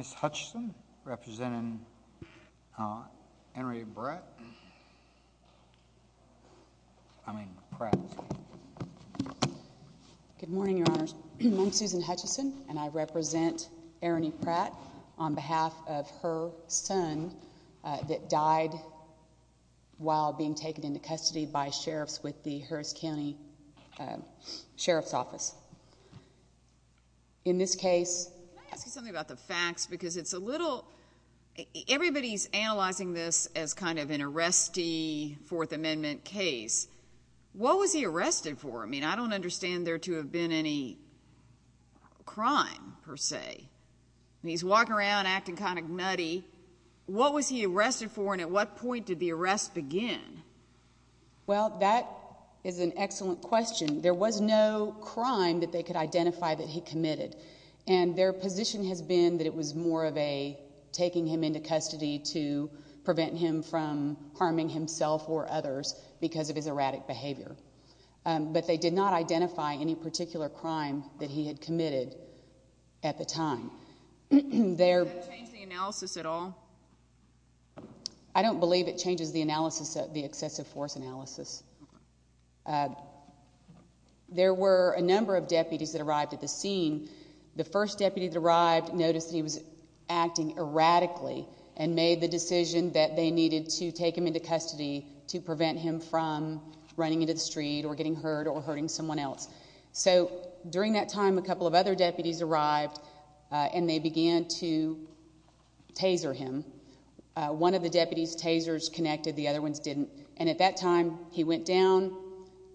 Good morning, Your Honors. I'm Susan Hutchison, and I represent Erony Pratt on behalf of her son that died while being taken into custody by sheriffs with the Harris County Sheriff's Office. In this case... Can I ask you something about the facts? Because it's a little... Everybody's analyzing this as kind of an arrestee Fourth Amendment case. What was he arrested for? I mean, I don't understand there to have been any crime, per se. He's walking around acting kind of nutty. What was he arrested for, and at what point did the arrest begin? Well, that is an excellent question. There was no crime that they could identify that he committed. And their position has been that it was more of a taking him into custody to prevent him from harming himself or others because of his erratic behavior. But they did not identify any particular crime that he had committed at the time. Did that change the analysis at all? I don't believe it changes the analysis, the excessive force analysis. There were a number of deputies that arrived at the scene. The first deputy that arrived noticed that he was acting erratically and made the decision that they needed to take him into custody to prevent him from running into the street or getting hurt or hurting someone else. So during that time, a couple of other deputies arrived, and they began to taser him. One of the deputies' tasers connected. The other ones didn't. And at that time, he went down,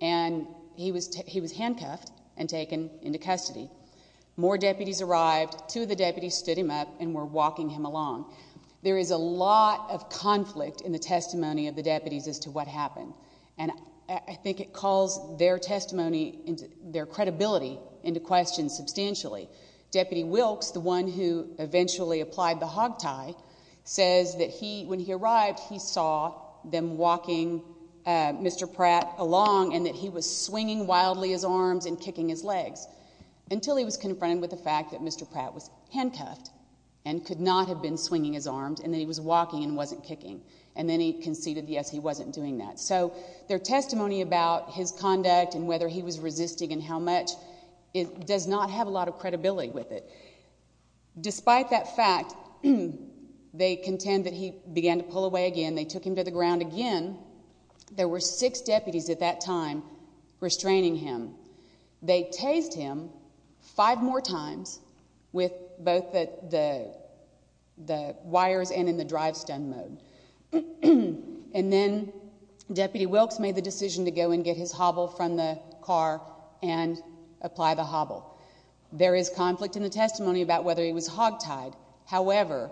and he was handcuffed and taken into custody. More deputies arrived. Two of the deputies stood him up and were walking him along. There is a lot of conflict in the testimony of the deputies as to what happened. And I think it calls their testimony, their credibility into question substantially. Deputy Wilkes, the one who eventually applied the hog tie, says that when he arrived, he saw them walking Mr. Pratt along and that he was swinging wildly his arms and kicking his legs until he was confronted with the fact that Mr. Pratt was handcuffed and could not have been swinging his arms and that he was walking and wasn't kicking. And then he conceded, yes, he wasn't doing that. So their testimony about his conduct and whether he was resisting and how much does not have a lot of credibility with it. Despite that fact, they contend that he began to pull away again. They took him to the ground again. There were six deputies at that time restraining him. They tased him five more times with both the wires and in the drive-stun mode. And then Deputy Wilkes made the decision to go and get his hobble from the car and apply the hobble. There is conflict in the testimony about whether he was hog tied. However,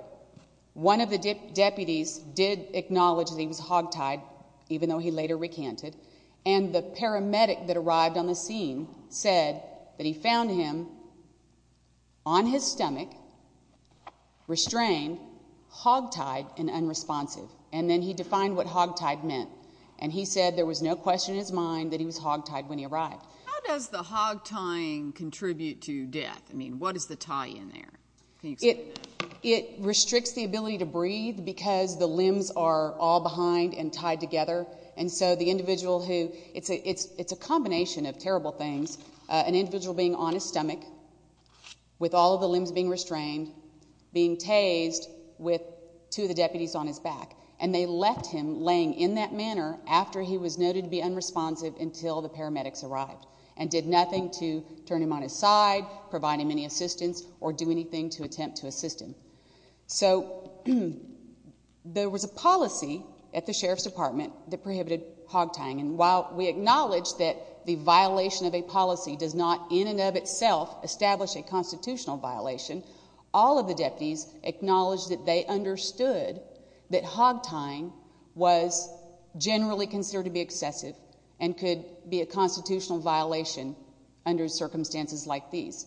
one of the deputies did acknowledge that he was hog tied, even though he later recanted, and the paramedic that arrived on the scene said that he found him on his stomach, restrained, hog tied, and unresponsive. And then he defined what hog tied meant. And he said there was no question in his mind that he was hog tied when he arrived. How does the hog tying contribute to death? I mean, what is the tie in there? It restricts the ability to breathe because the limbs are all behind and tied together. And so the individual who, it's a combination of terrible things, an individual being on his stomach with all the limbs being restrained, being tased with two of the deputies on his back, and they left him laying in that manner after he was noted to be unresponsive until the paramedics arrived and did nothing to turn him on his side, provide him any assistance, or do anything to attempt to assist him. So there was a policy at the Sheriff's Department that prohibited hog tying. And while we acknowledge that the violation of a policy does not in and of itself establish a constitutional violation, all of the deputies acknowledged that they understood that hog tying was generally considered to be excessive and could be a constitutional violation under circumstances like these.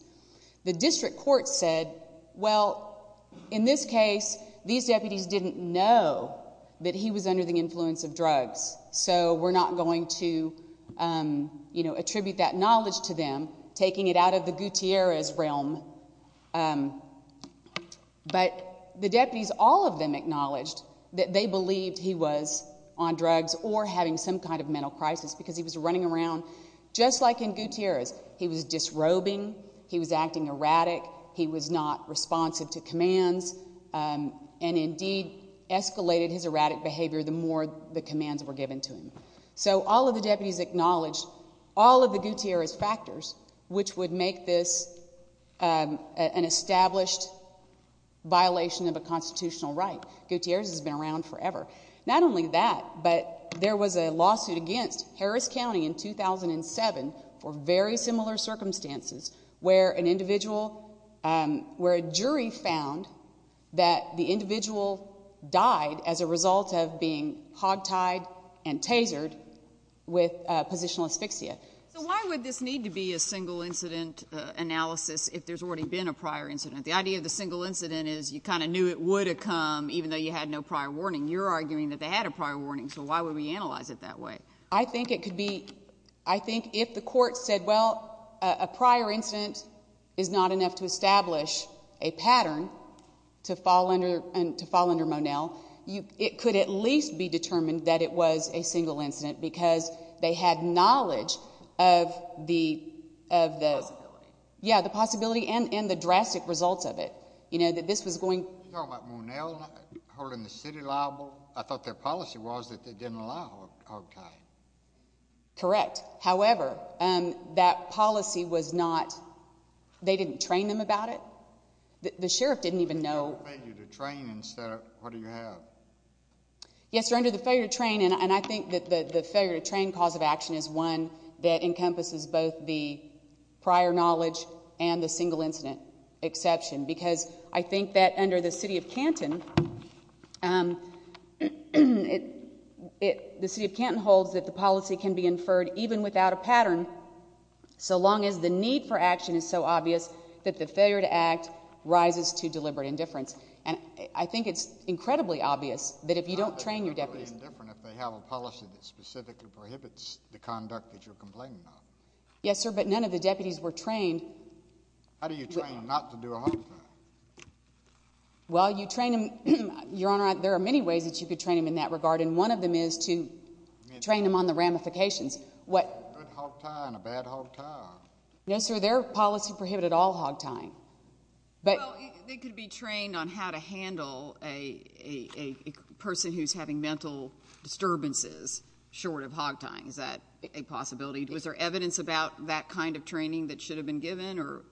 The district court said, well, in this case, these deputies didn't know that he was under the influence of drugs, so we're not going to attribute that knowledge to them, taking it out of the Gutierrez realm. But the deputies, all of them acknowledged that they believed he was on drugs or having some kind of mental crisis because he was running around just like in Gutierrez. He was disrobing, he was acting erratic, he was not responsive to commands, and indeed escalated his erratic behavior the more the commands were given to him. So all of the deputies acknowledged all of the Gutierrez factors, which would make this an established violation of a constitutional right. Gutierrez has been around forever. Not only that, but there was a lawsuit against Harris County in 2007 for very similar circumstances where an individual, where a jury found that the individual died as a result of being hog tied and tasered with positional asphyxia. So why would this need to be a single incident analysis if there's already been a prior incident? The idea of the single incident is you kind of knew it would have come even though you had no prior warning. You're arguing that they had a prior warning, so why would we analyze it that way? I think it could be, I think if the court said, well, a prior incident is not enough to establish a pattern to fall under Monell, it could at least be determined that it was a single incident because they had knowledge of the possibility and the drastic results of it, you know, that this was going. Are you talking about Monell holding the city liable? I thought their policy was that they didn't allow hog tying. Correct. However, that policy was not, they didn't train them about it. The sheriff didn't even know. If you have a failure to train instead of, what do you have? Yes, sir, under the failure to train, and I think that the failure to train cause of action is one that encompasses both the prior knowledge and the single incident exception because I think that under the city of Canton, the city of Canton holds that the policy can be inferred even without a pattern, so long as the need for action is so obvious that the failure to act rises to deliberate indifference, and I think it's incredibly obvious that if you don't train your deputies. How is it deliberate indifference if they have a policy that specifically prohibits the conduct that you're complaining about? Yes, sir, but none of the deputies were trained. How do you train them not to do a hog tie? Well, you train them, Your Honor, there are many ways that you could train them in that regard, and one of them is to train them on the ramifications. A good hog tie and a bad hog tie. Yes, sir, their policy prohibited all hog tying. Well, they could be trained on how to handle a person who's having mental disturbances short of hog tying. Is that a possibility? Was there evidence about that kind of training that should have been given, or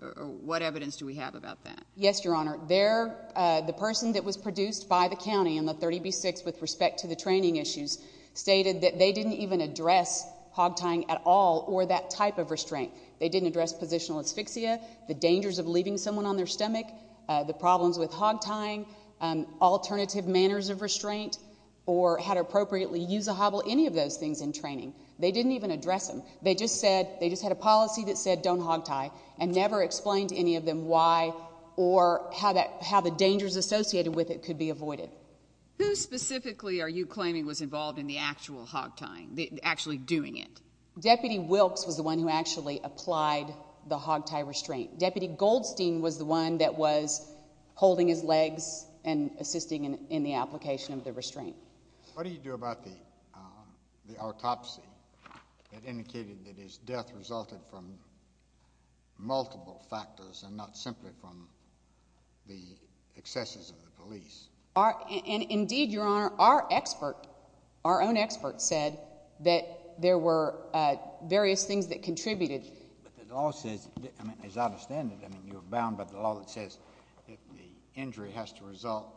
what evidence do we have about that? Yes, Your Honor. The person that was produced by the county in the 30B-6 with respect to the training issues stated that they didn't even address hog tying at all or that type of restraint. They didn't address positional asphyxia, the dangers of leaving someone on their stomach, the problems with hog tying, alternative manners of restraint, or how to appropriately use a hobble, any of those things in training. They didn't even address them. They just said they just had a policy that said don't hog tie and never explained to any of them why or how the dangers associated with it could be avoided. Who specifically are you claiming was involved in the actual hog tying, actually doing it? Deputy Wilkes was the one who actually applied the hog tie restraint. Deputy Goldstein was the one that was holding his legs and assisting in the application of the restraint. What do you do about the autopsy that indicated that his death resulted from multiple factors and not simply from the excesses of the police? Indeed, Your Honor, our own expert said that there were various things that contributed. But the law says, as I understand it, you're bound by the law that says the injury has to result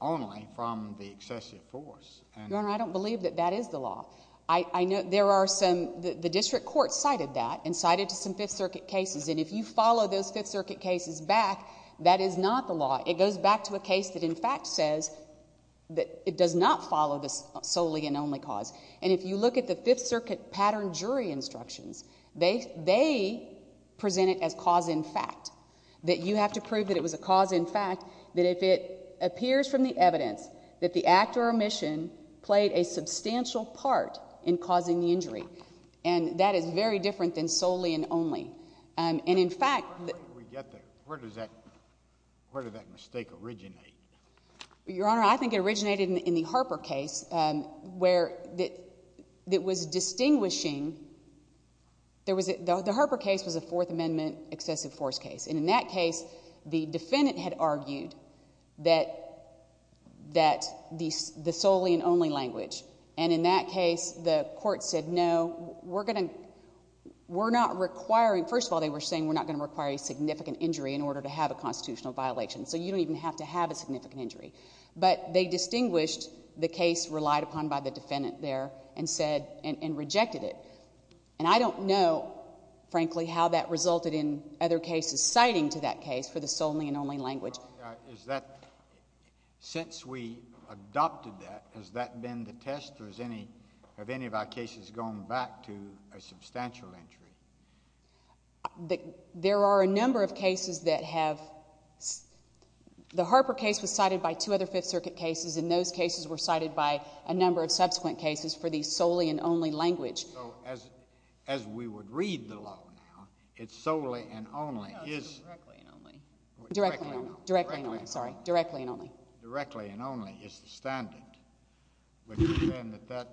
only from the excessive force. Your Honor, I don't believe that that is the law. The district court cited that and cited some Fifth Circuit cases, and if you follow those Fifth Circuit cases back, that is not the law. It goes back to a case that, in fact, says that it does not follow the solely and only cause. And if you look at the Fifth Circuit pattern jury instructions, they present it as cause in fact, that you have to prove that it was a cause in fact, that if it appears from the evidence that the act or omission played a substantial part in causing the injury. And that is very different than solely and only. And, in fact— Where do we get that? Where does that mistake originate? Your Honor, I think it originated in the Harper case where it was distinguishing— the Harper case was a Fourth Amendment excessive force case. And in that case, the defendant had argued that the solely and only language. And in that case, the court said, no, we're not requiring— first of all, they were saying we're not going to require a significant injury in order to have a constitutional violation. So you don't even have to have a significant injury. But they distinguished the case relied upon by the defendant there and said—and rejected it. And I don't know, frankly, how that resulted in other cases citing to that case for the solely and only language. Is that—since we adopted that, has that been the test or has any of our cases gone back to a substantial injury? There are a number of cases that have—the Harper case was cited by two other Fifth Circuit cases. And those cases were cited by a number of subsequent cases for the solely and only language. So as we would read the law now, it's solely and only. No, it's directly and only. Directly and only. Directly and only. Sorry. Directly and only. Directly and only is the standard. But you defend that that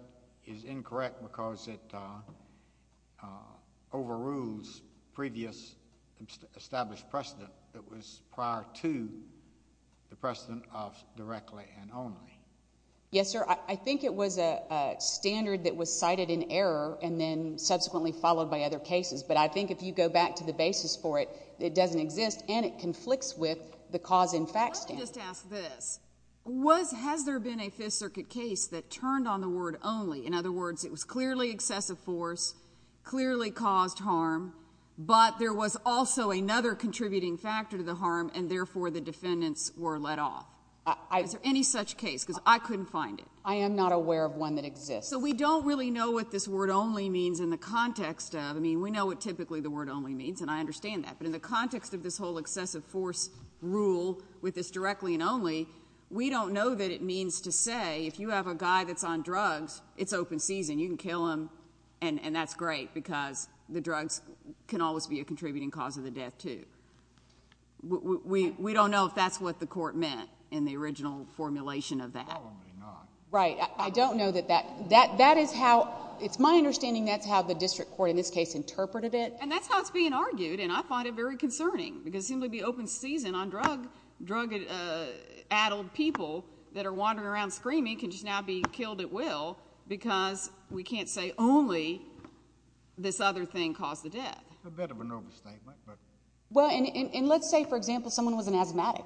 is incorrect because it overrules previous established precedent that was prior to the precedent of directly and only. Yes, sir. I think it was a standard that was cited in error and then subsequently followed by other cases. But I think if you go back to the basis for it, it doesn't exist. Let me just ask this. Was—has there been a Fifth Circuit case that turned on the word only? In other words, it was clearly excessive force, clearly caused harm, but there was also another contributing factor to the harm and, therefore, the defendants were let off. Is there any such case? Because I couldn't find it. I am not aware of one that exists. So we don't really know what this word only means in the context of—I mean, we know what typically the word only means, and I understand that. But in the context of this whole excessive force rule with this directly and only, we don't know that it means to say if you have a guy that's on drugs, it's open season. You can kill him, and that's great because the drugs can always be a contributing cause of the death, too. We don't know if that's what the Court meant in the original formulation of that. Probably not. Right. I don't know that that—that is how—it's my understanding that's how the district court in this case interpreted it. And that's how it's being argued, and I find it very concerning because it seemed to be open season on drug-addled people that are wandering around screaming can just now be killed at will because we can't say only this other thing caused the death. A bit of an overstatement, but— Well, and let's say, for example, someone was an asthmatic,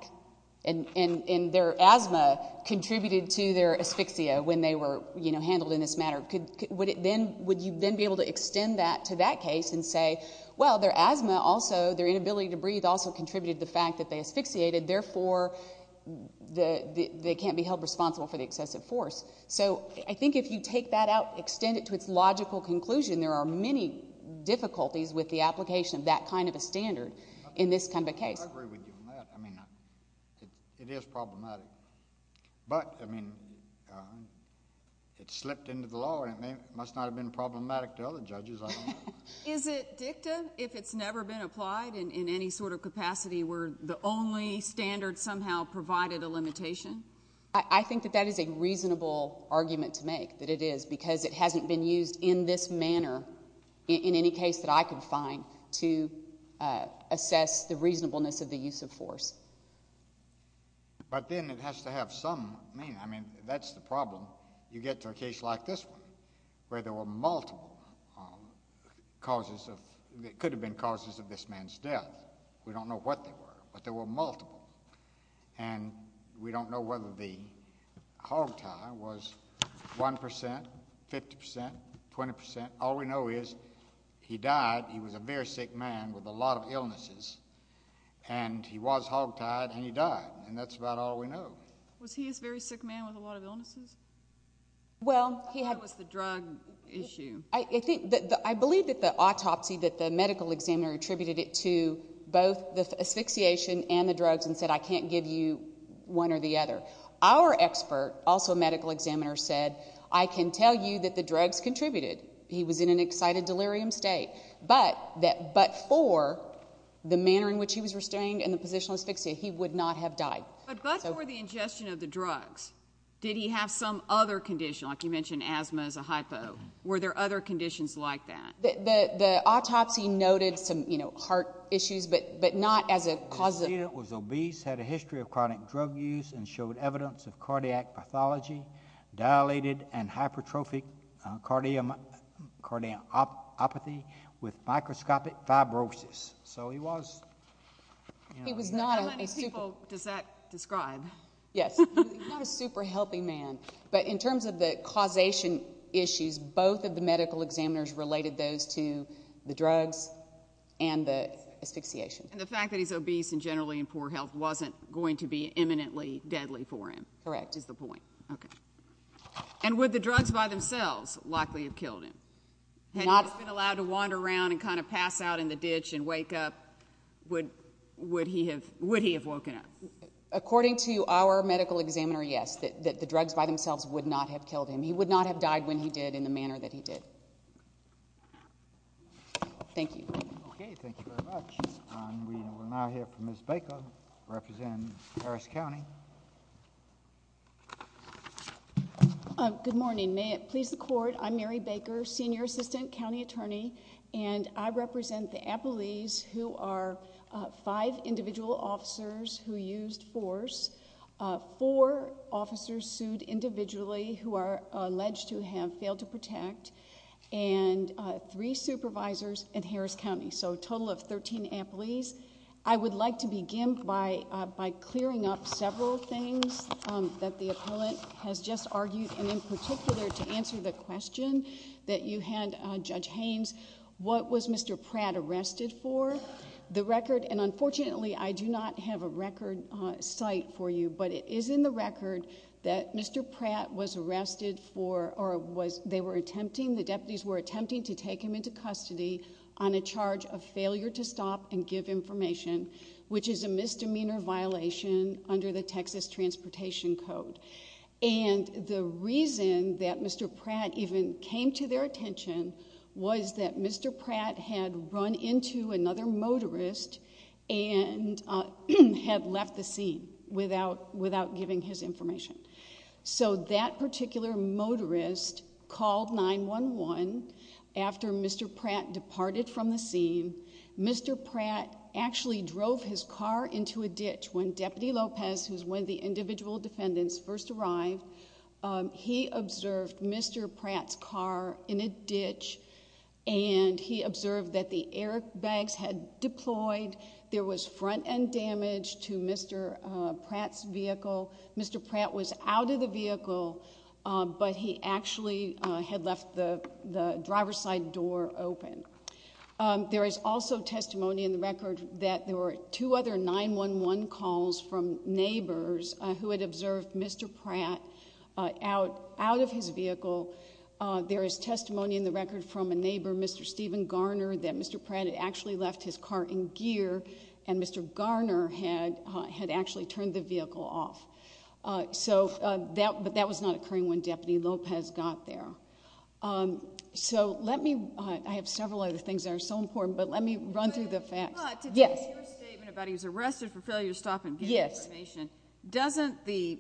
and their asthma contributed to their asphyxia when they were handled in this manner. Would you then be able to extend that to that case and say, well, their asthma also, their inability to breathe also contributed to the fact that they asphyxiated, therefore they can't be held responsible for the excessive force? So I think if you take that out, extend it to its logical conclusion, there are many difficulties with the application of that kind of a standard in this kind of a case. I agree with you on that. I mean, it is problematic. But, I mean, it slipped into the law, and it must not have been problematic to other judges. I don't know. Is it dicta if it's never been applied in any sort of capacity where the only standard somehow provided a limitation? I think that that is a reasonable argument to make, that it is, because it hasn't been used in this manner in any case that I could find to assess the reasonableness of the use of force. But then it has to have some meaning. I mean, that's the problem. You get to a case like this one where there were multiple causes of—it could have been causes of this man's death. We don't know what they were, but there were multiple. And we don't know whether the hogtie was 1%, 50%, 20%. All we know is he died. He was a very sick man with a lot of illnesses. And he was hogtied, and he died. And that's about all we know. Was he a very sick man with a lot of illnesses? Well, he had— I thought it was the drug issue. I believe that the autopsy, that the medical examiner attributed it to both the asphyxiation and the drugs and said, I can't give you one or the other. Our expert, also a medical examiner, said, I can tell you that the drugs contributed. He was in an excited delirium state. But that but for the manner in which he was restrained and the positional asphyxia, he would not have died. But but for the ingestion of the drugs, did he have some other condition? Like you mentioned asthma is a hypo. Were there other conditions like that? The autopsy noted some heart issues, but not as a cause of— The student was obese, had a history of chronic drug use, and showed evidence of cardiac pathology, dilated and hypertrophic cardiomyopathy with microscopic fibrosis. So he was— How many people does that describe? Yes. Not a super healthy man. But in terms of the causation issues, both of the medical examiners related those to the drugs and the asphyxiation. And the fact that he's obese and generally in poor health wasn't going to be imminently deadly for him. Correct. Is the point. Okay. And would the drugs by themselves likely have killed him? Had he been allowed to wander around and kind of pass out in the ditch and wake up, would he have woken up? According to our medical examiner, yes, that the drugs by themselves would not have killed him. He would not have died when he did in the manner that he did. Thank you. Okay. Thank you very much. We will now hear from Ms. Baker, representing Harris County. Good morning. May it please the Court, I'm Mary Baker, senior assistant county attorney, and I represent the appellees who are five individual officers who used force, four officers sued individually who are alleged to have failed to protect, and three supervisors in Harris County. So a total of 13 appellees. I would like to begin by clearing up several things that the appellant has just argued, and in particular to answer the question that you had, Judge Haynes, what was Mr. Pratt arrested for? The record, and unfortunately I do not have a record site for you, but it is in the record that Mr. Pratt was arrested for, or they were attempting, the deputies were attempting to take him into custody on a charge of failure to stop and give information, which is a misdemeanor violation under the Texas Transportation Code. And the reason that Mr. Pratt even came to their attention was that Mr. Pratt had run into another motorist and had left the scene without giving his information. So that particular motorist called 911 after Mr. Pratt departed from the scene. Mr. Pratt actually drove his car into a ditch when Deputy Lopez, who is one of the individual defendants, first arrived. He observed Mr. Pratt's car in a ditch, and he observed that the airbags had deployed. There was front-end damage to Mr. Pratt's vehicle. Mr. Pratt was out of the vehicle, but he actually had left the driver's side door open. There is also testimony in the record that there were two other 911 calls from neighbors who had observed Mr. Pratt out of his vehicle. There is testimony in the record from a neighbor, Mr. Stephen Garner, that Mr. Pratt had actually left his car in gear, and Mr. Garner had actually turned the vehicle off. But that was not occurring when Deputy Lopez got there. I have several other things that are so important, but let me run through the facts. To take your statement about he was arrested for failure to stop and give information, doesn't the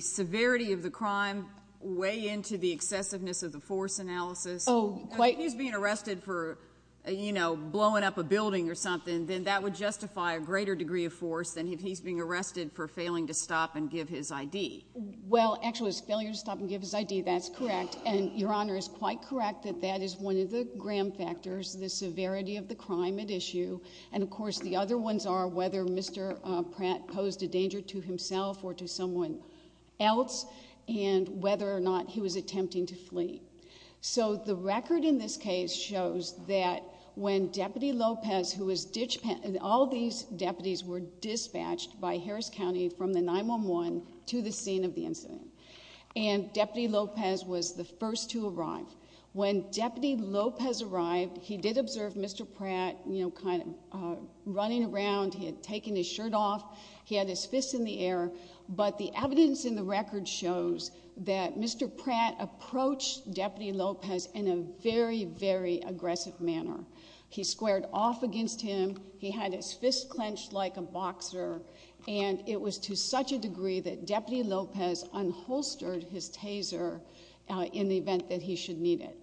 severity of the crime weigh into the excessiveness of the force analysis? If he's being arrested for blowing up a building or something, then that would justify a greater degree of force than if he's being arrested for failing to stop and give his ID. Well, actually, it's failure to stop and give his ID. That's correct. And Your Honor is quite correct that that is one of the gram factors, the severity of the crime at issue. And, of course, the other ones are whether Mr. Pratt posed a danger to himself or to someone else, and whether or not he was attempting to flee. So the record in this case shows that when Deputy Lopez, who was ditched – all these deputies were dispatched by Harris County from the 911 to the scene of the incident. And Deputy Lopez was the first to arrive. When Deputy Lopez arrived, he did observe Mr. Pratt, you know, kind of running around. He had taken his shirt off. He had his fist in the air. But the evidence in the record shows that Mr. Pratt approached Deputy Lopez in a very, very aggressive manner. He squared off against him. He had his fist clenched like a boxer. And it was to such a degree that Deputy Lopez unholstered his taser in the event that he should need it.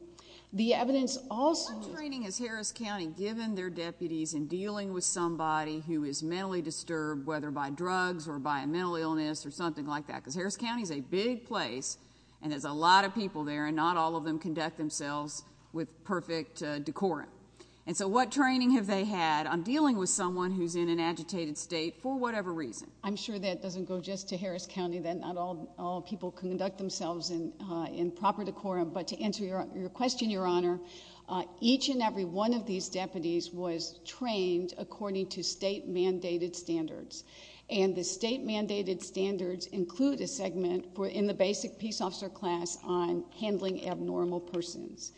The evidence also – What training has Harris County given their deputies in dealing with somebody who is mentally disturbed, whether by drugs or by a mental illness or something like that? Because Harris County is a big place, and there's a lot of people there, and not all of them conduct themselves with perfect decorum. And so what training have they had on dealing with someone who's in an agitated state for whatever reason? I'm sure that doesn't go just to Harris County, that not all people conduct themselves in proper decorum. But to answer your question, Your Honor, each and every one of these deputies was trained according to state-mandated standards. And the state-mandated standards include a segment in the basic peace officer class on handling abnormal persons.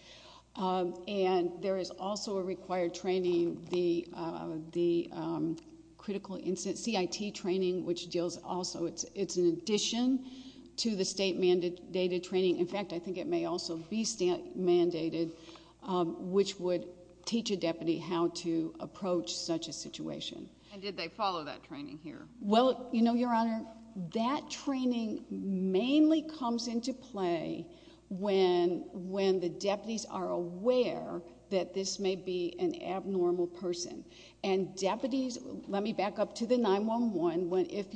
And there is also a required training, the critical incident CIT training, which deals also – it's an addition to the state-mandated training. In fact, I think it may also be mandated, which would teach a deputy how to approach such a situation. And did they follow that training here? Well, you know, Your Honor, that training mainly comes into play when the deputies are aware that this may be an abnormal person. And deputies – let me back up to the 9-1-1. If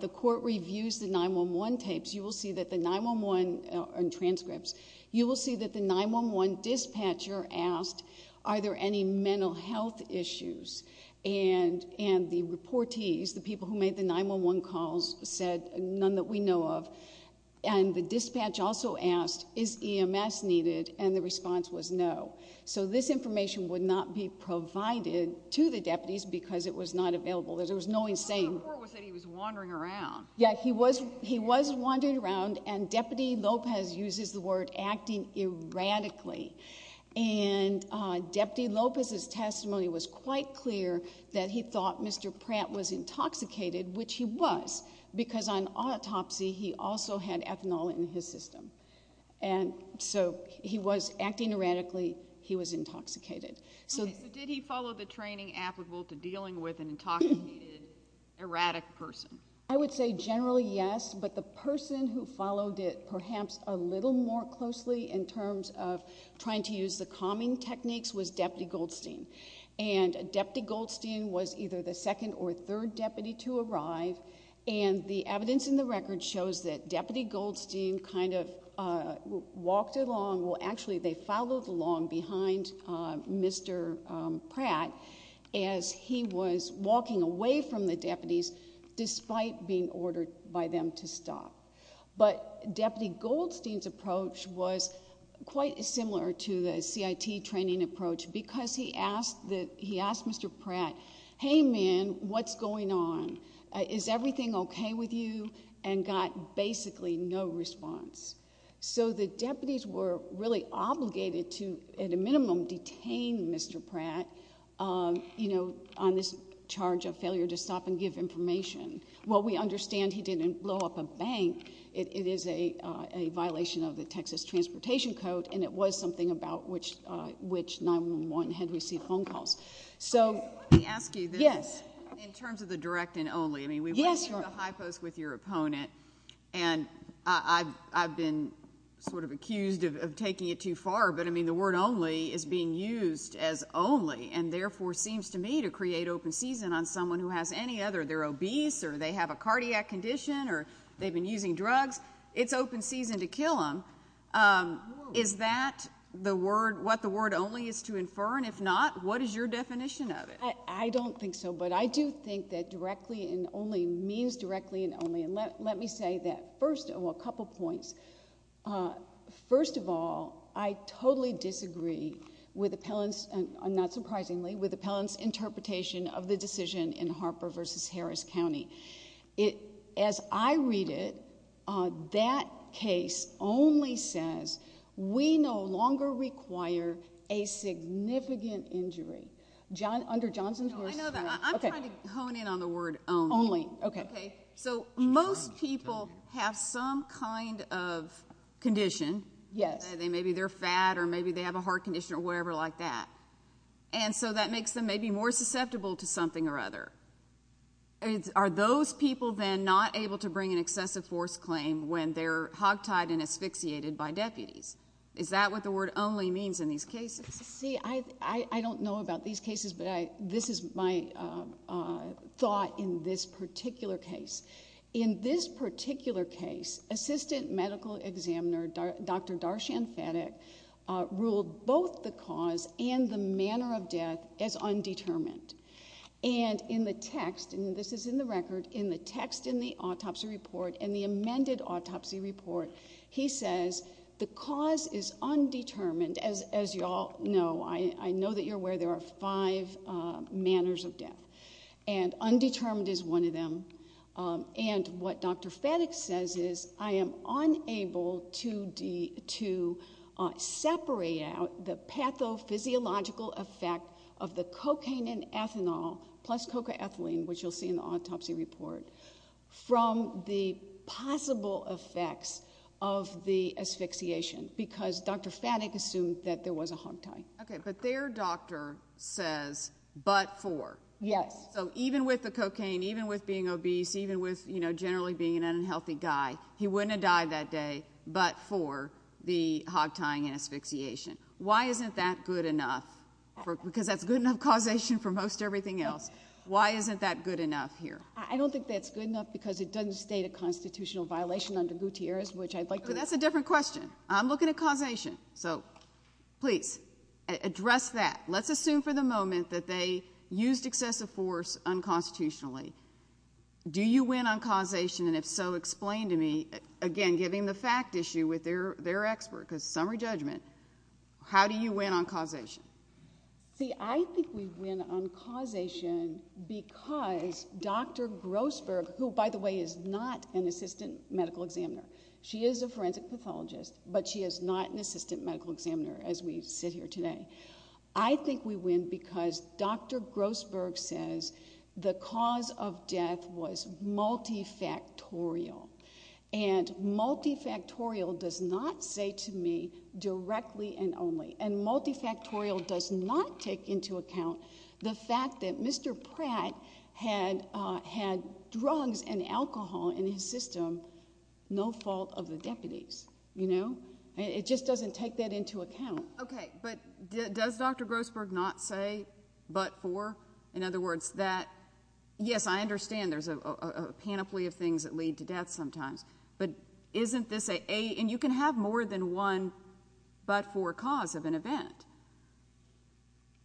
the court reviews the 9-1-1 tapes, you will see that the 9-1-1 – and transcripts – you will see that the 9-1-1 dispatcher asked, are there any mental health issues? And the reportees, the people who made the 9-1-1 calls, said none that we know of. And the dispatch also asked, is EMS needed? And the response was no. So this information would not be provided to the deputies because it was not available. There was no saying – The court said he was wandering around. Yeah, he was wandering around. And Deputy Lopez uses the word acting erratically. And Deputy Lopez's testimony was quite clear that he thought Mr. Pratt was intoxicated, which he was, because on autopsy he also had ethanol in his system. And so he was acting erratically. He was intoxicated. So did he follow the training applicable to dealing with an intoxicated, erratic person? I would say generally yes, but the person who followed it perhaps a little more closely in terms of trying to use the calming techniques was Deputy Goldstein. And Deputy Goldstein was either the second or third deputy to arrive, and the evidence in the record shows that Deputy Goldstein kind of walked along – well, actually they followed along behind Mr. Pratt as he was walking away from the deputies despite being ordered by them to stop. But Deputy Goldstein's approach was quite similar to the CIT training approach because he asked Mr. Pratt, hey man, what's going on? Is everything okay with you? And got basically no response. So the deputies were really obligated to, at a minimum, detain Mr. Pratt on this charge of failure to stop and give information. Well, we understand he didn't blow up a bank. It is a violation of the Texas Transportation Code, and it was something about which 911 had received phone calls. Let me ask you this. Yes. In terms of the direct and only, I mean we went through the high post with your opponent, and I've been sort of accused of taking it too far, but I mean the word only is being used as only and therefore seems to me to create open season on someone who has any other. They're obese or they have a cardiac condition or they've been using drugs. It's open season to kill them. Is that what the word only is to infer? And if not, what is your definition of it? I don't think so, but I do think that directly and only means directly and only. And let me say that first of a couple points. First of all, I totally disagree with appellants, and not surprisingly with appellants' interpretation of the decision in Harper v. Harris County. As I read it, that case only says, we no longer require a significant injury. No, I know that. I'm trying to hone in on the word only. So most people have some kind of condition. Yes. Maybe they're fat or maybe they have a heart condition or whatever like that. And so that makes them maybe more susceptible to something or other. Are those people then not able to bring an excessive force claim when they're hogtied and asphyxiated by deputies? Is that what the word only means in these cases? See, I don't know about these cases, but this is my thought in this particular case. In this particular case, assistant medical examiner, Dr. Darshan Phadak, ruled both the cause and the manner of death as undetermined. And in the text, and this is in the record, in the text in the autopsy report and the amended autopsy report, he says the cause is undetermined. As you all know, I know that you're aware there are five manners of death. And undetermined is one of them. And what Dr. Phadak says is, I am unable to separate out the pathophysiological effect of the cocaine and ethanol, plus cocaethylene, which you'll see in the autopsy report, from the possible effects of the asphyxiation because Dr. Phadak assumed that there was a hogtie. Okay, but their doctor says, but for. Yes. So even with the cocaine, even with being obese, even with generally being an unhealthy guy, he wouldn't have died that day but for the hogtie and asphyxiation. Why isn't that good enough? Because that's good enough causation for most everything else. Why isn't that good enough here? I don't think that's good enough because it doesn't state a constitutional violation under Gutierrez, which I'd like to... That's a different question. I'm looking at causation. So please, address that. Let's assume for the moment that they used excessive force unconstitutionally. Do you win on causation? And if so, explain to me, again, giving the fact issue with their expert because summary judgment, how do you win on causation? See, I think we win on causation because Dr. Grossberg, who, by the way, is not an assistant medical examiner. She is a forensic pathologist but she is not an assistant medical examiner as we sit here today. I think we win because Dr. Grossberg says the cause of death was multifactorial and multifactorial does not say to me directly and only, and multifactorial does not take into account the fact that Mr. Pratt had drugs and alcohol in his system and no fault of the deputies, you know? It just doesn't take that into account. Okay, but does Dr. Grossberg not say but for? In other words, yes, I understand there's a panoply of things that lead to death sometimes, but isn't this a... And you can have more than one but for cause of an event.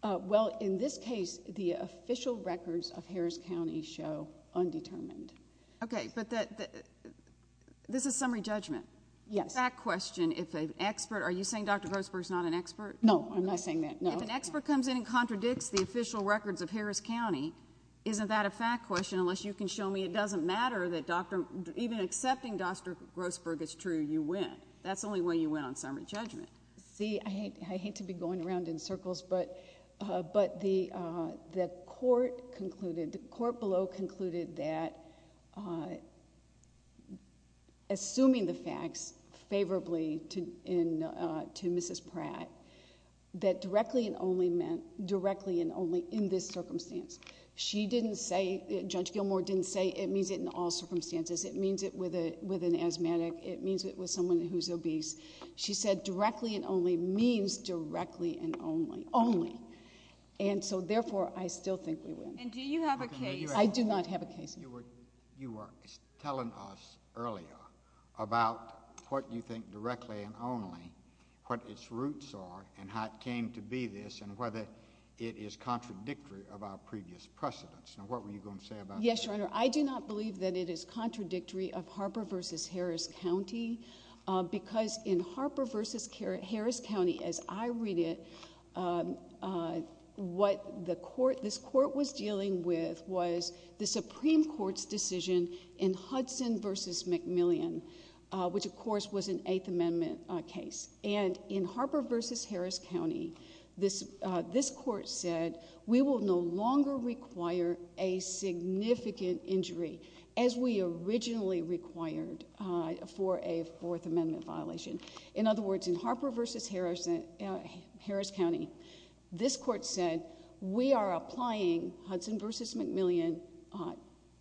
Well, in this case, the official records of Harris County show undetermined. Okay, but this is summary judgment. Yes. Fact question, if an expert... Are you saying Dr. Grossberg's not an expert? No, I'm not saying that, no. If an expert comes in and contradicts the official records of Harris County, isn't that a fact question unless you can show me it doesn't matter that even accepting Dr. Grossberg is true, you win. That's the only way you win on summary judgment. See, I hate to be going around in circles, but the court concluded, the court below concluded that assuming the facts favorably to Mrs. Pratt, that directly and only meant directly and only in this circumstance. Judge Gilmour didn't say it means it in all circumstances. It means it with an asthmatic. It means it with someone who's obese. She said directly and only means directly and only. And so, therefore, I still think we win. And do you have a case? I do not have a case. You were telling us earlier about what you think directly and only, what its roots are, and how it came to be this, and whether it is contradictory of our previous precedents. Now, what were you going to say about that? Yes, Your Honor, I do not believe that it is contradictory of Harper v. Harris County because in Harper v. Harris County, as I read it, what this court was dealing with was the Supreme Court's decision in Hudson v. McMillian, which, of course, was an Eighth Amendment case. And in Harper v. Harris County, this court said, we will no longer require a significant injury as we originally required for a Fourth Amendment violation. In other words, in Harper v. Harris County, this court said, we are applying Hudson v. McMillian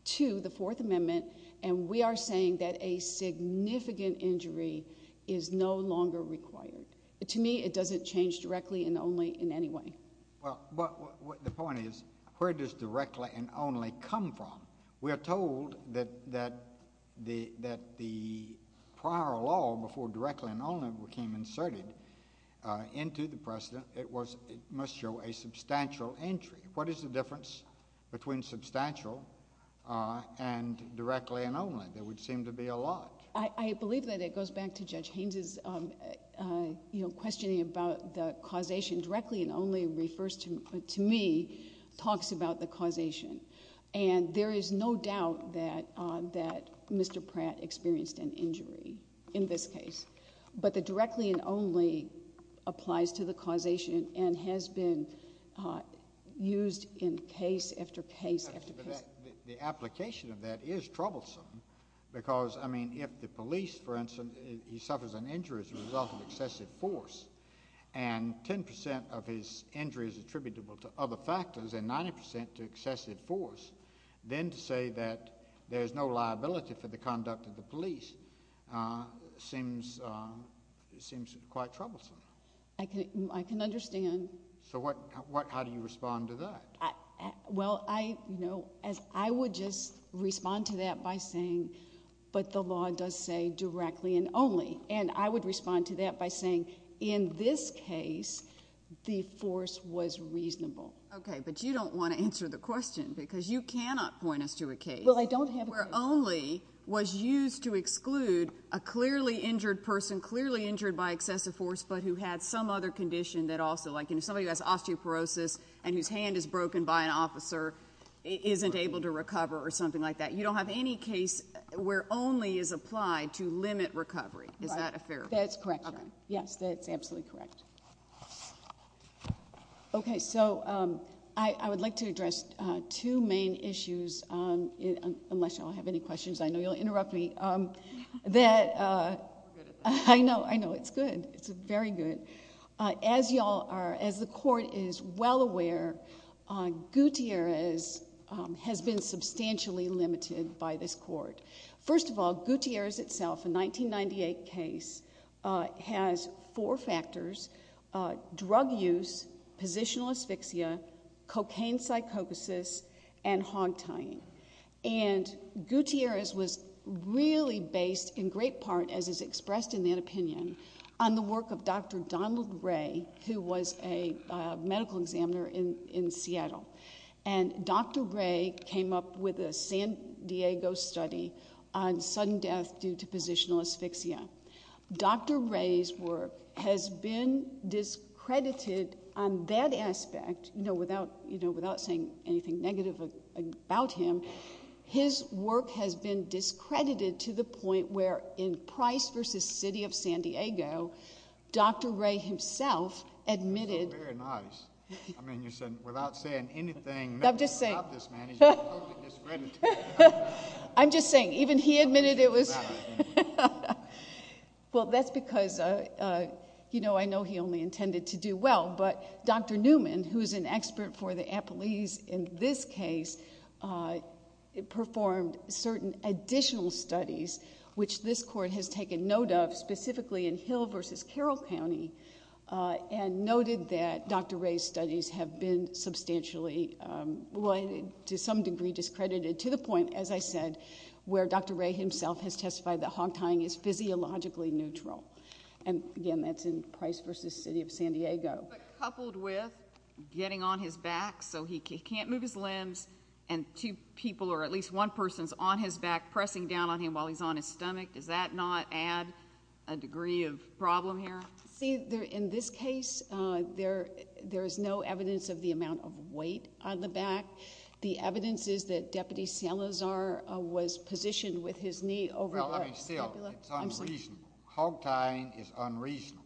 to the Fourth Amendment, and we are saying that a significant injury is no longer required. To me, it doesn't change directly and only in any way. Well, the point is, where does directly and only come from? We are told that the prior law, before directly and only became inserted into the precedent, it must show a substantial injury. What is the difference between substantial and directly and only? There would seem to be a lot. I believe that it goes back to Judge Haynes' questioning about the causation. Directly and only, to me, talks about the causation. And there is no doubt that Mr. Pratt experienced an injury in this case. But the directly and only applies to the causation and has been used in case after case after case. The application of that is troublesome because, I mean, if the police, for instance, he suffers an injury as a result of excessive force, and 10% of his injury is attributable to other factors and 90% to excessive force, then to say that there is no liability for the conduct of the police seems quite troublesome. I can understand. So how do you respond to that? Well, I would just respond to that by saying, but the law does say directly and only. And I would respond to that by saying, in this case, the force was reasonable. Okay, but you don't want to answer the question because you cannot point us to a case where only was used to exclude a clearly injured person, clearly injured by excessive force, but who had some other condition that also, like somebody who has osteoporosis and whose hand is broken by an officer, isn't able to recover or something like that. You don't have any case where only is applied to limit recovery. Is that a fair point? That's correct. Yes, that's absolutely correct. Okay, so I would like to address two main issues, unless y'all have any questions. I know you'll interrupt me. I'm good at this. I know, I know. It's good. It's very good. As the court is well aware, Gutierrez has been substantially limited by this court. First of all, Gutierrez itself, a 1998 case, has four factors, drug use, positional asphyxia, cocaine psychosis, and hog tying. And Gutierrez was really based in great part, as is expressed in that opinion, on the work of Dr. Donald Ray, who was a medical examiner in Seattle. And Dr. Ray came up with a San Diego study on sudden death due to positional asphyxia. Dr. Ray's work has been discredited on that aspect, you know, without saying anything negative about him. His work has been discredited to the point where in Price v. City of San Diego, Dr. Ray himself admitted. Very nice. I mean, you said, without saying anything about this, man, he's been totally discredited. I'm just saying, even he admitted it was... Well, that's because, you know, I know he only intended to do well, but Dr. Newman, who is an expert for the appellees in this case, performed certain additional studies, which this court has taken note of, specifically in Hill v. Carroll County, and noted that Dr. Ray's studies have been substantially, well, to some degree discredited to the point, as I said, where Dr. Ray himself has testified that hog tying is physiologically neutral. And, again, that's in Price v. City of San Diego. But coupled with getting on his back so he can't move his limbs and two people or at least one person's on his back pressing down on him while he's on his stomach, does that not add a degree of problem here? See, in this case, there is no evidence of the amount of weight on the back. The evidence is that Deputy Salazar was positioned with his knee over the scapula. Well, I mean, still, it's unreasonable. Hog tying is unreasonable.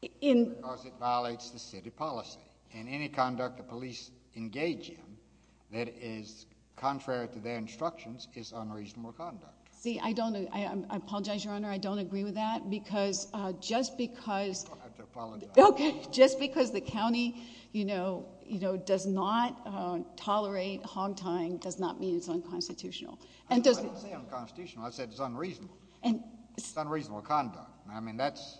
Because it violates the city policy. And any conduct the police engage in that is contrary to their instructions is unreasonable conduct. See, I don't... I apologize, Your Honour. I don't agree with that, because just because... I have to apologize. Okay, just because the county, you know, does not tolerate hog tying does not mean it's unconstitutional. I didn't say unconstitutional. I said it's unreasonable. It's unreasonable conduct. I mean, that's...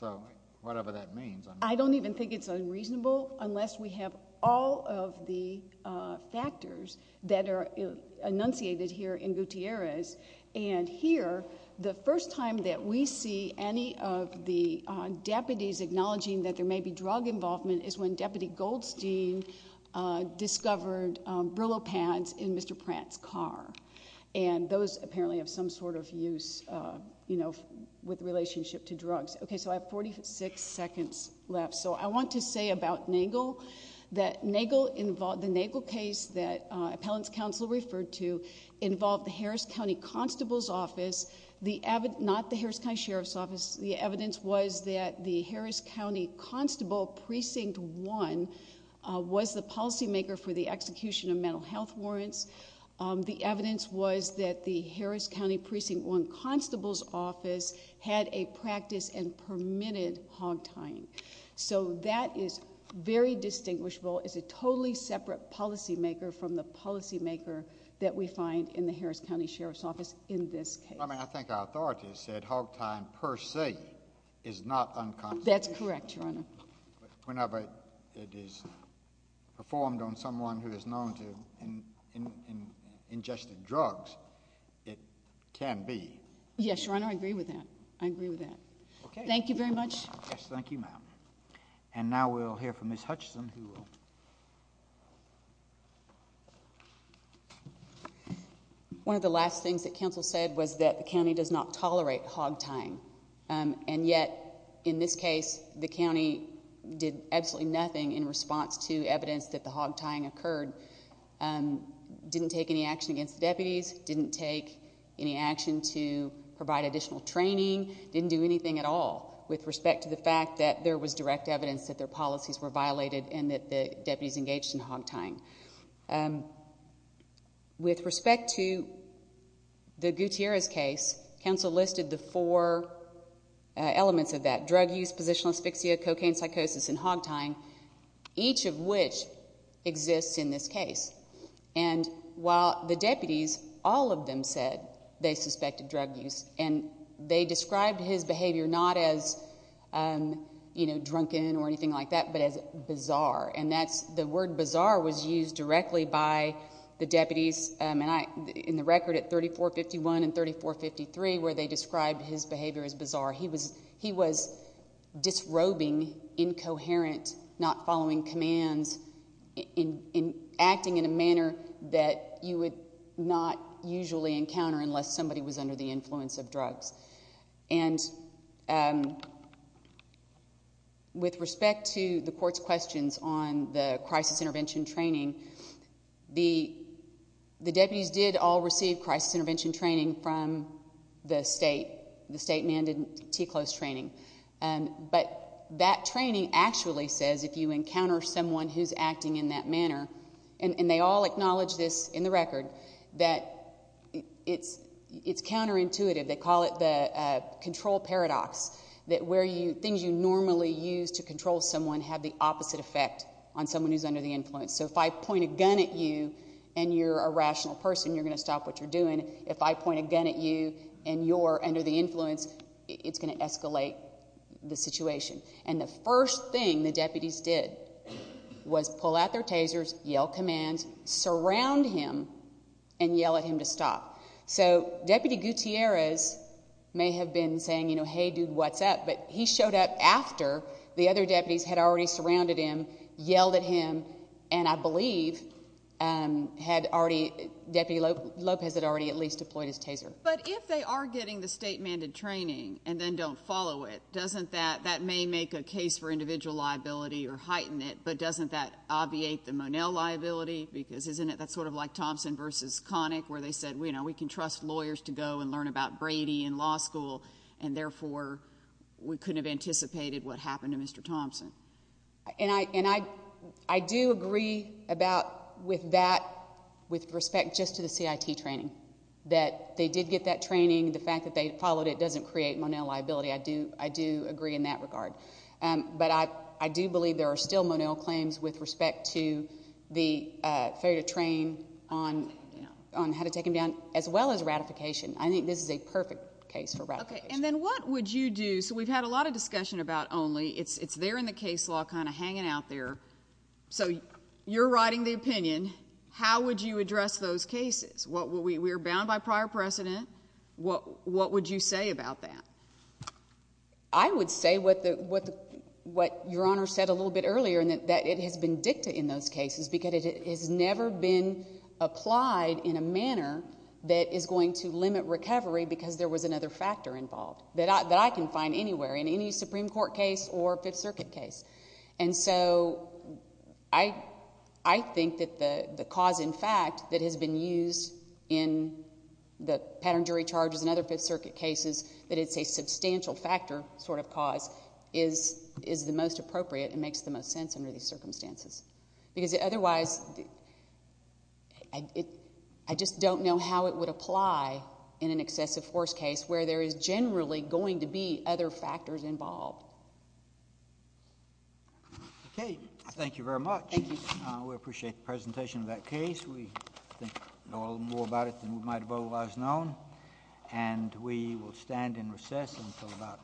So, whatever that means... I don't even think it's unreasonable unless we have all of the factors that are enunciated here in Gutierrez. And here, the first time that we see any of the deputies acknowledging that there may be drug involvement is when Deputy Goldstein discovered Brillo pads in Mr. Pratt's car. And those apparently have some sort of use, you know, with relationship to drugs. Okay, so I have 46 seconds left. So I want to say about Nagel that the Nagel case that Appellant's Counsel referred to involved the Harris County Constable's Office, not the Harris County Sheriff's Office. The evidence was that the Harris County Constable Precinct 1 was the policymaker for the execution of mental health warrants. The evidence was that the Harris County Precinct 1 Constable's Office had a practice and permitted hog tying. So that is very distinguishable. It's a totally separate policymaker from the policymaker that we find in the Harris County Sheriff's Office in this case. I mean, I think our authorities said hog tying per se is not unconstitutional. That's correct, Your Honor. Whenever it is performed on someone who is known to have ingested drugs, it can be. Yes, Your Honor, I agree with that. I agree with that. Thank you very much. Yes, thank you, ma'am. And now we'll hear from Ms. Hutchison, who will... One of the last things that counsel said was that the county does not tolerate hog tying. And yet, in this case, the county did absolutely nothing in response to evidence that the hog tying occurred. Didn't take any action against deputies. Didn't take any action to provide additional training. Didn't do anything at all with respect to the fact that there was direct evidence that their policies were violated and that the deputies engaged in hog tying. With respect to the Gutierrez case, counsel listed the four elements of that. Drug use, positional asphyxia, cocaine psychosis, and hog tying, each of which exists in this case. And while the deputies, all of them said they suspected drug use and they described his behavior not as, you know, drunken or anything like that, but as bizarre. And that's...the word bizarre was used directly by the deputies in the record at 3451 and 3453 where they described his behavior as bizarre. He was disrobing, incoherent, not following commands, acting in a manner that you would not usually encounter unless somebody was under the influence of drugs. And with respect to the court's questions on the crisis intervention training, the deputies did all receive crisis intervention training from the state, the state-mandated TCLOS training. But that training actually says if you encounter someone who's acting in that manner, and they all acknowledge this in the record, that it's counterintuitive. They call it the control paradox, that where you...things you normally use to control someone have the opposite effect on someone who's under the influence. So if I point a gun at you and you're a rational person, you're going to stop what you're doing. If I point a gun at you and you're under the influence, it's going to escalate the situation. And the first thing the deputies did was pull out their tasers, yell commands, surround him and yell at him to stop. So Deputy Gutierrez may have been saying, you know, hey, dude, what's up? But he showed up after the other deputies had already surrounded him, yelled at him, and I believe had already... Deputy Lopez had already at least deployed his taser. But if they are getting the state-mandated training and then don't follow it, doesn't that... That may make a case for individual liability or heighten it, but doesn't that obviate the Monell liability? Because isn't it sort of like Thompson v. Connick where they said, you know, we can trust lawyers to go and learn about Brady in law school and therefore we couldn't have anticipated what happened to Mr. Thompson. And I do agree with that with respect just to the CIT training, that they did get that training. The fact that they followed it doesn't create Monell liability. I do agree in that regard. But I do believe there are still Monell claims with respect to the failure to train on how to take him down as well as ratification. I think this is a perfect case for ratification. Okay, and then what would you do... So we've had a lot of discussion about ONLY. It's there in the case law kind of hanging out there. So you're writing the opinion. How would you address those cases? We're bound by prior precedent. What would you say about that? I would say what Your Honor said a little bit earlier is that it has been dicta in those cases because it has never been applied in a manner that is going to limit recovery because there was another factor involved that I can find anywhere in any Supreme Court case or Fifth Circuit case. And so I think that the cause in fact that has been used in the pattern jury charges and other Fifth Circuit cases, that it's a substantial factor sort of cause, is the most appropriate and makes the most sense under these circumstances. Because otherwise... I just don't know how it would apply in an excessive force case where there is generally going to be other factors involved. Okay, thank you very much. Thank you. We appreciate the presentation of that case. We think we know a little more about it than we might have otherwise known. And we will stand in recess until about...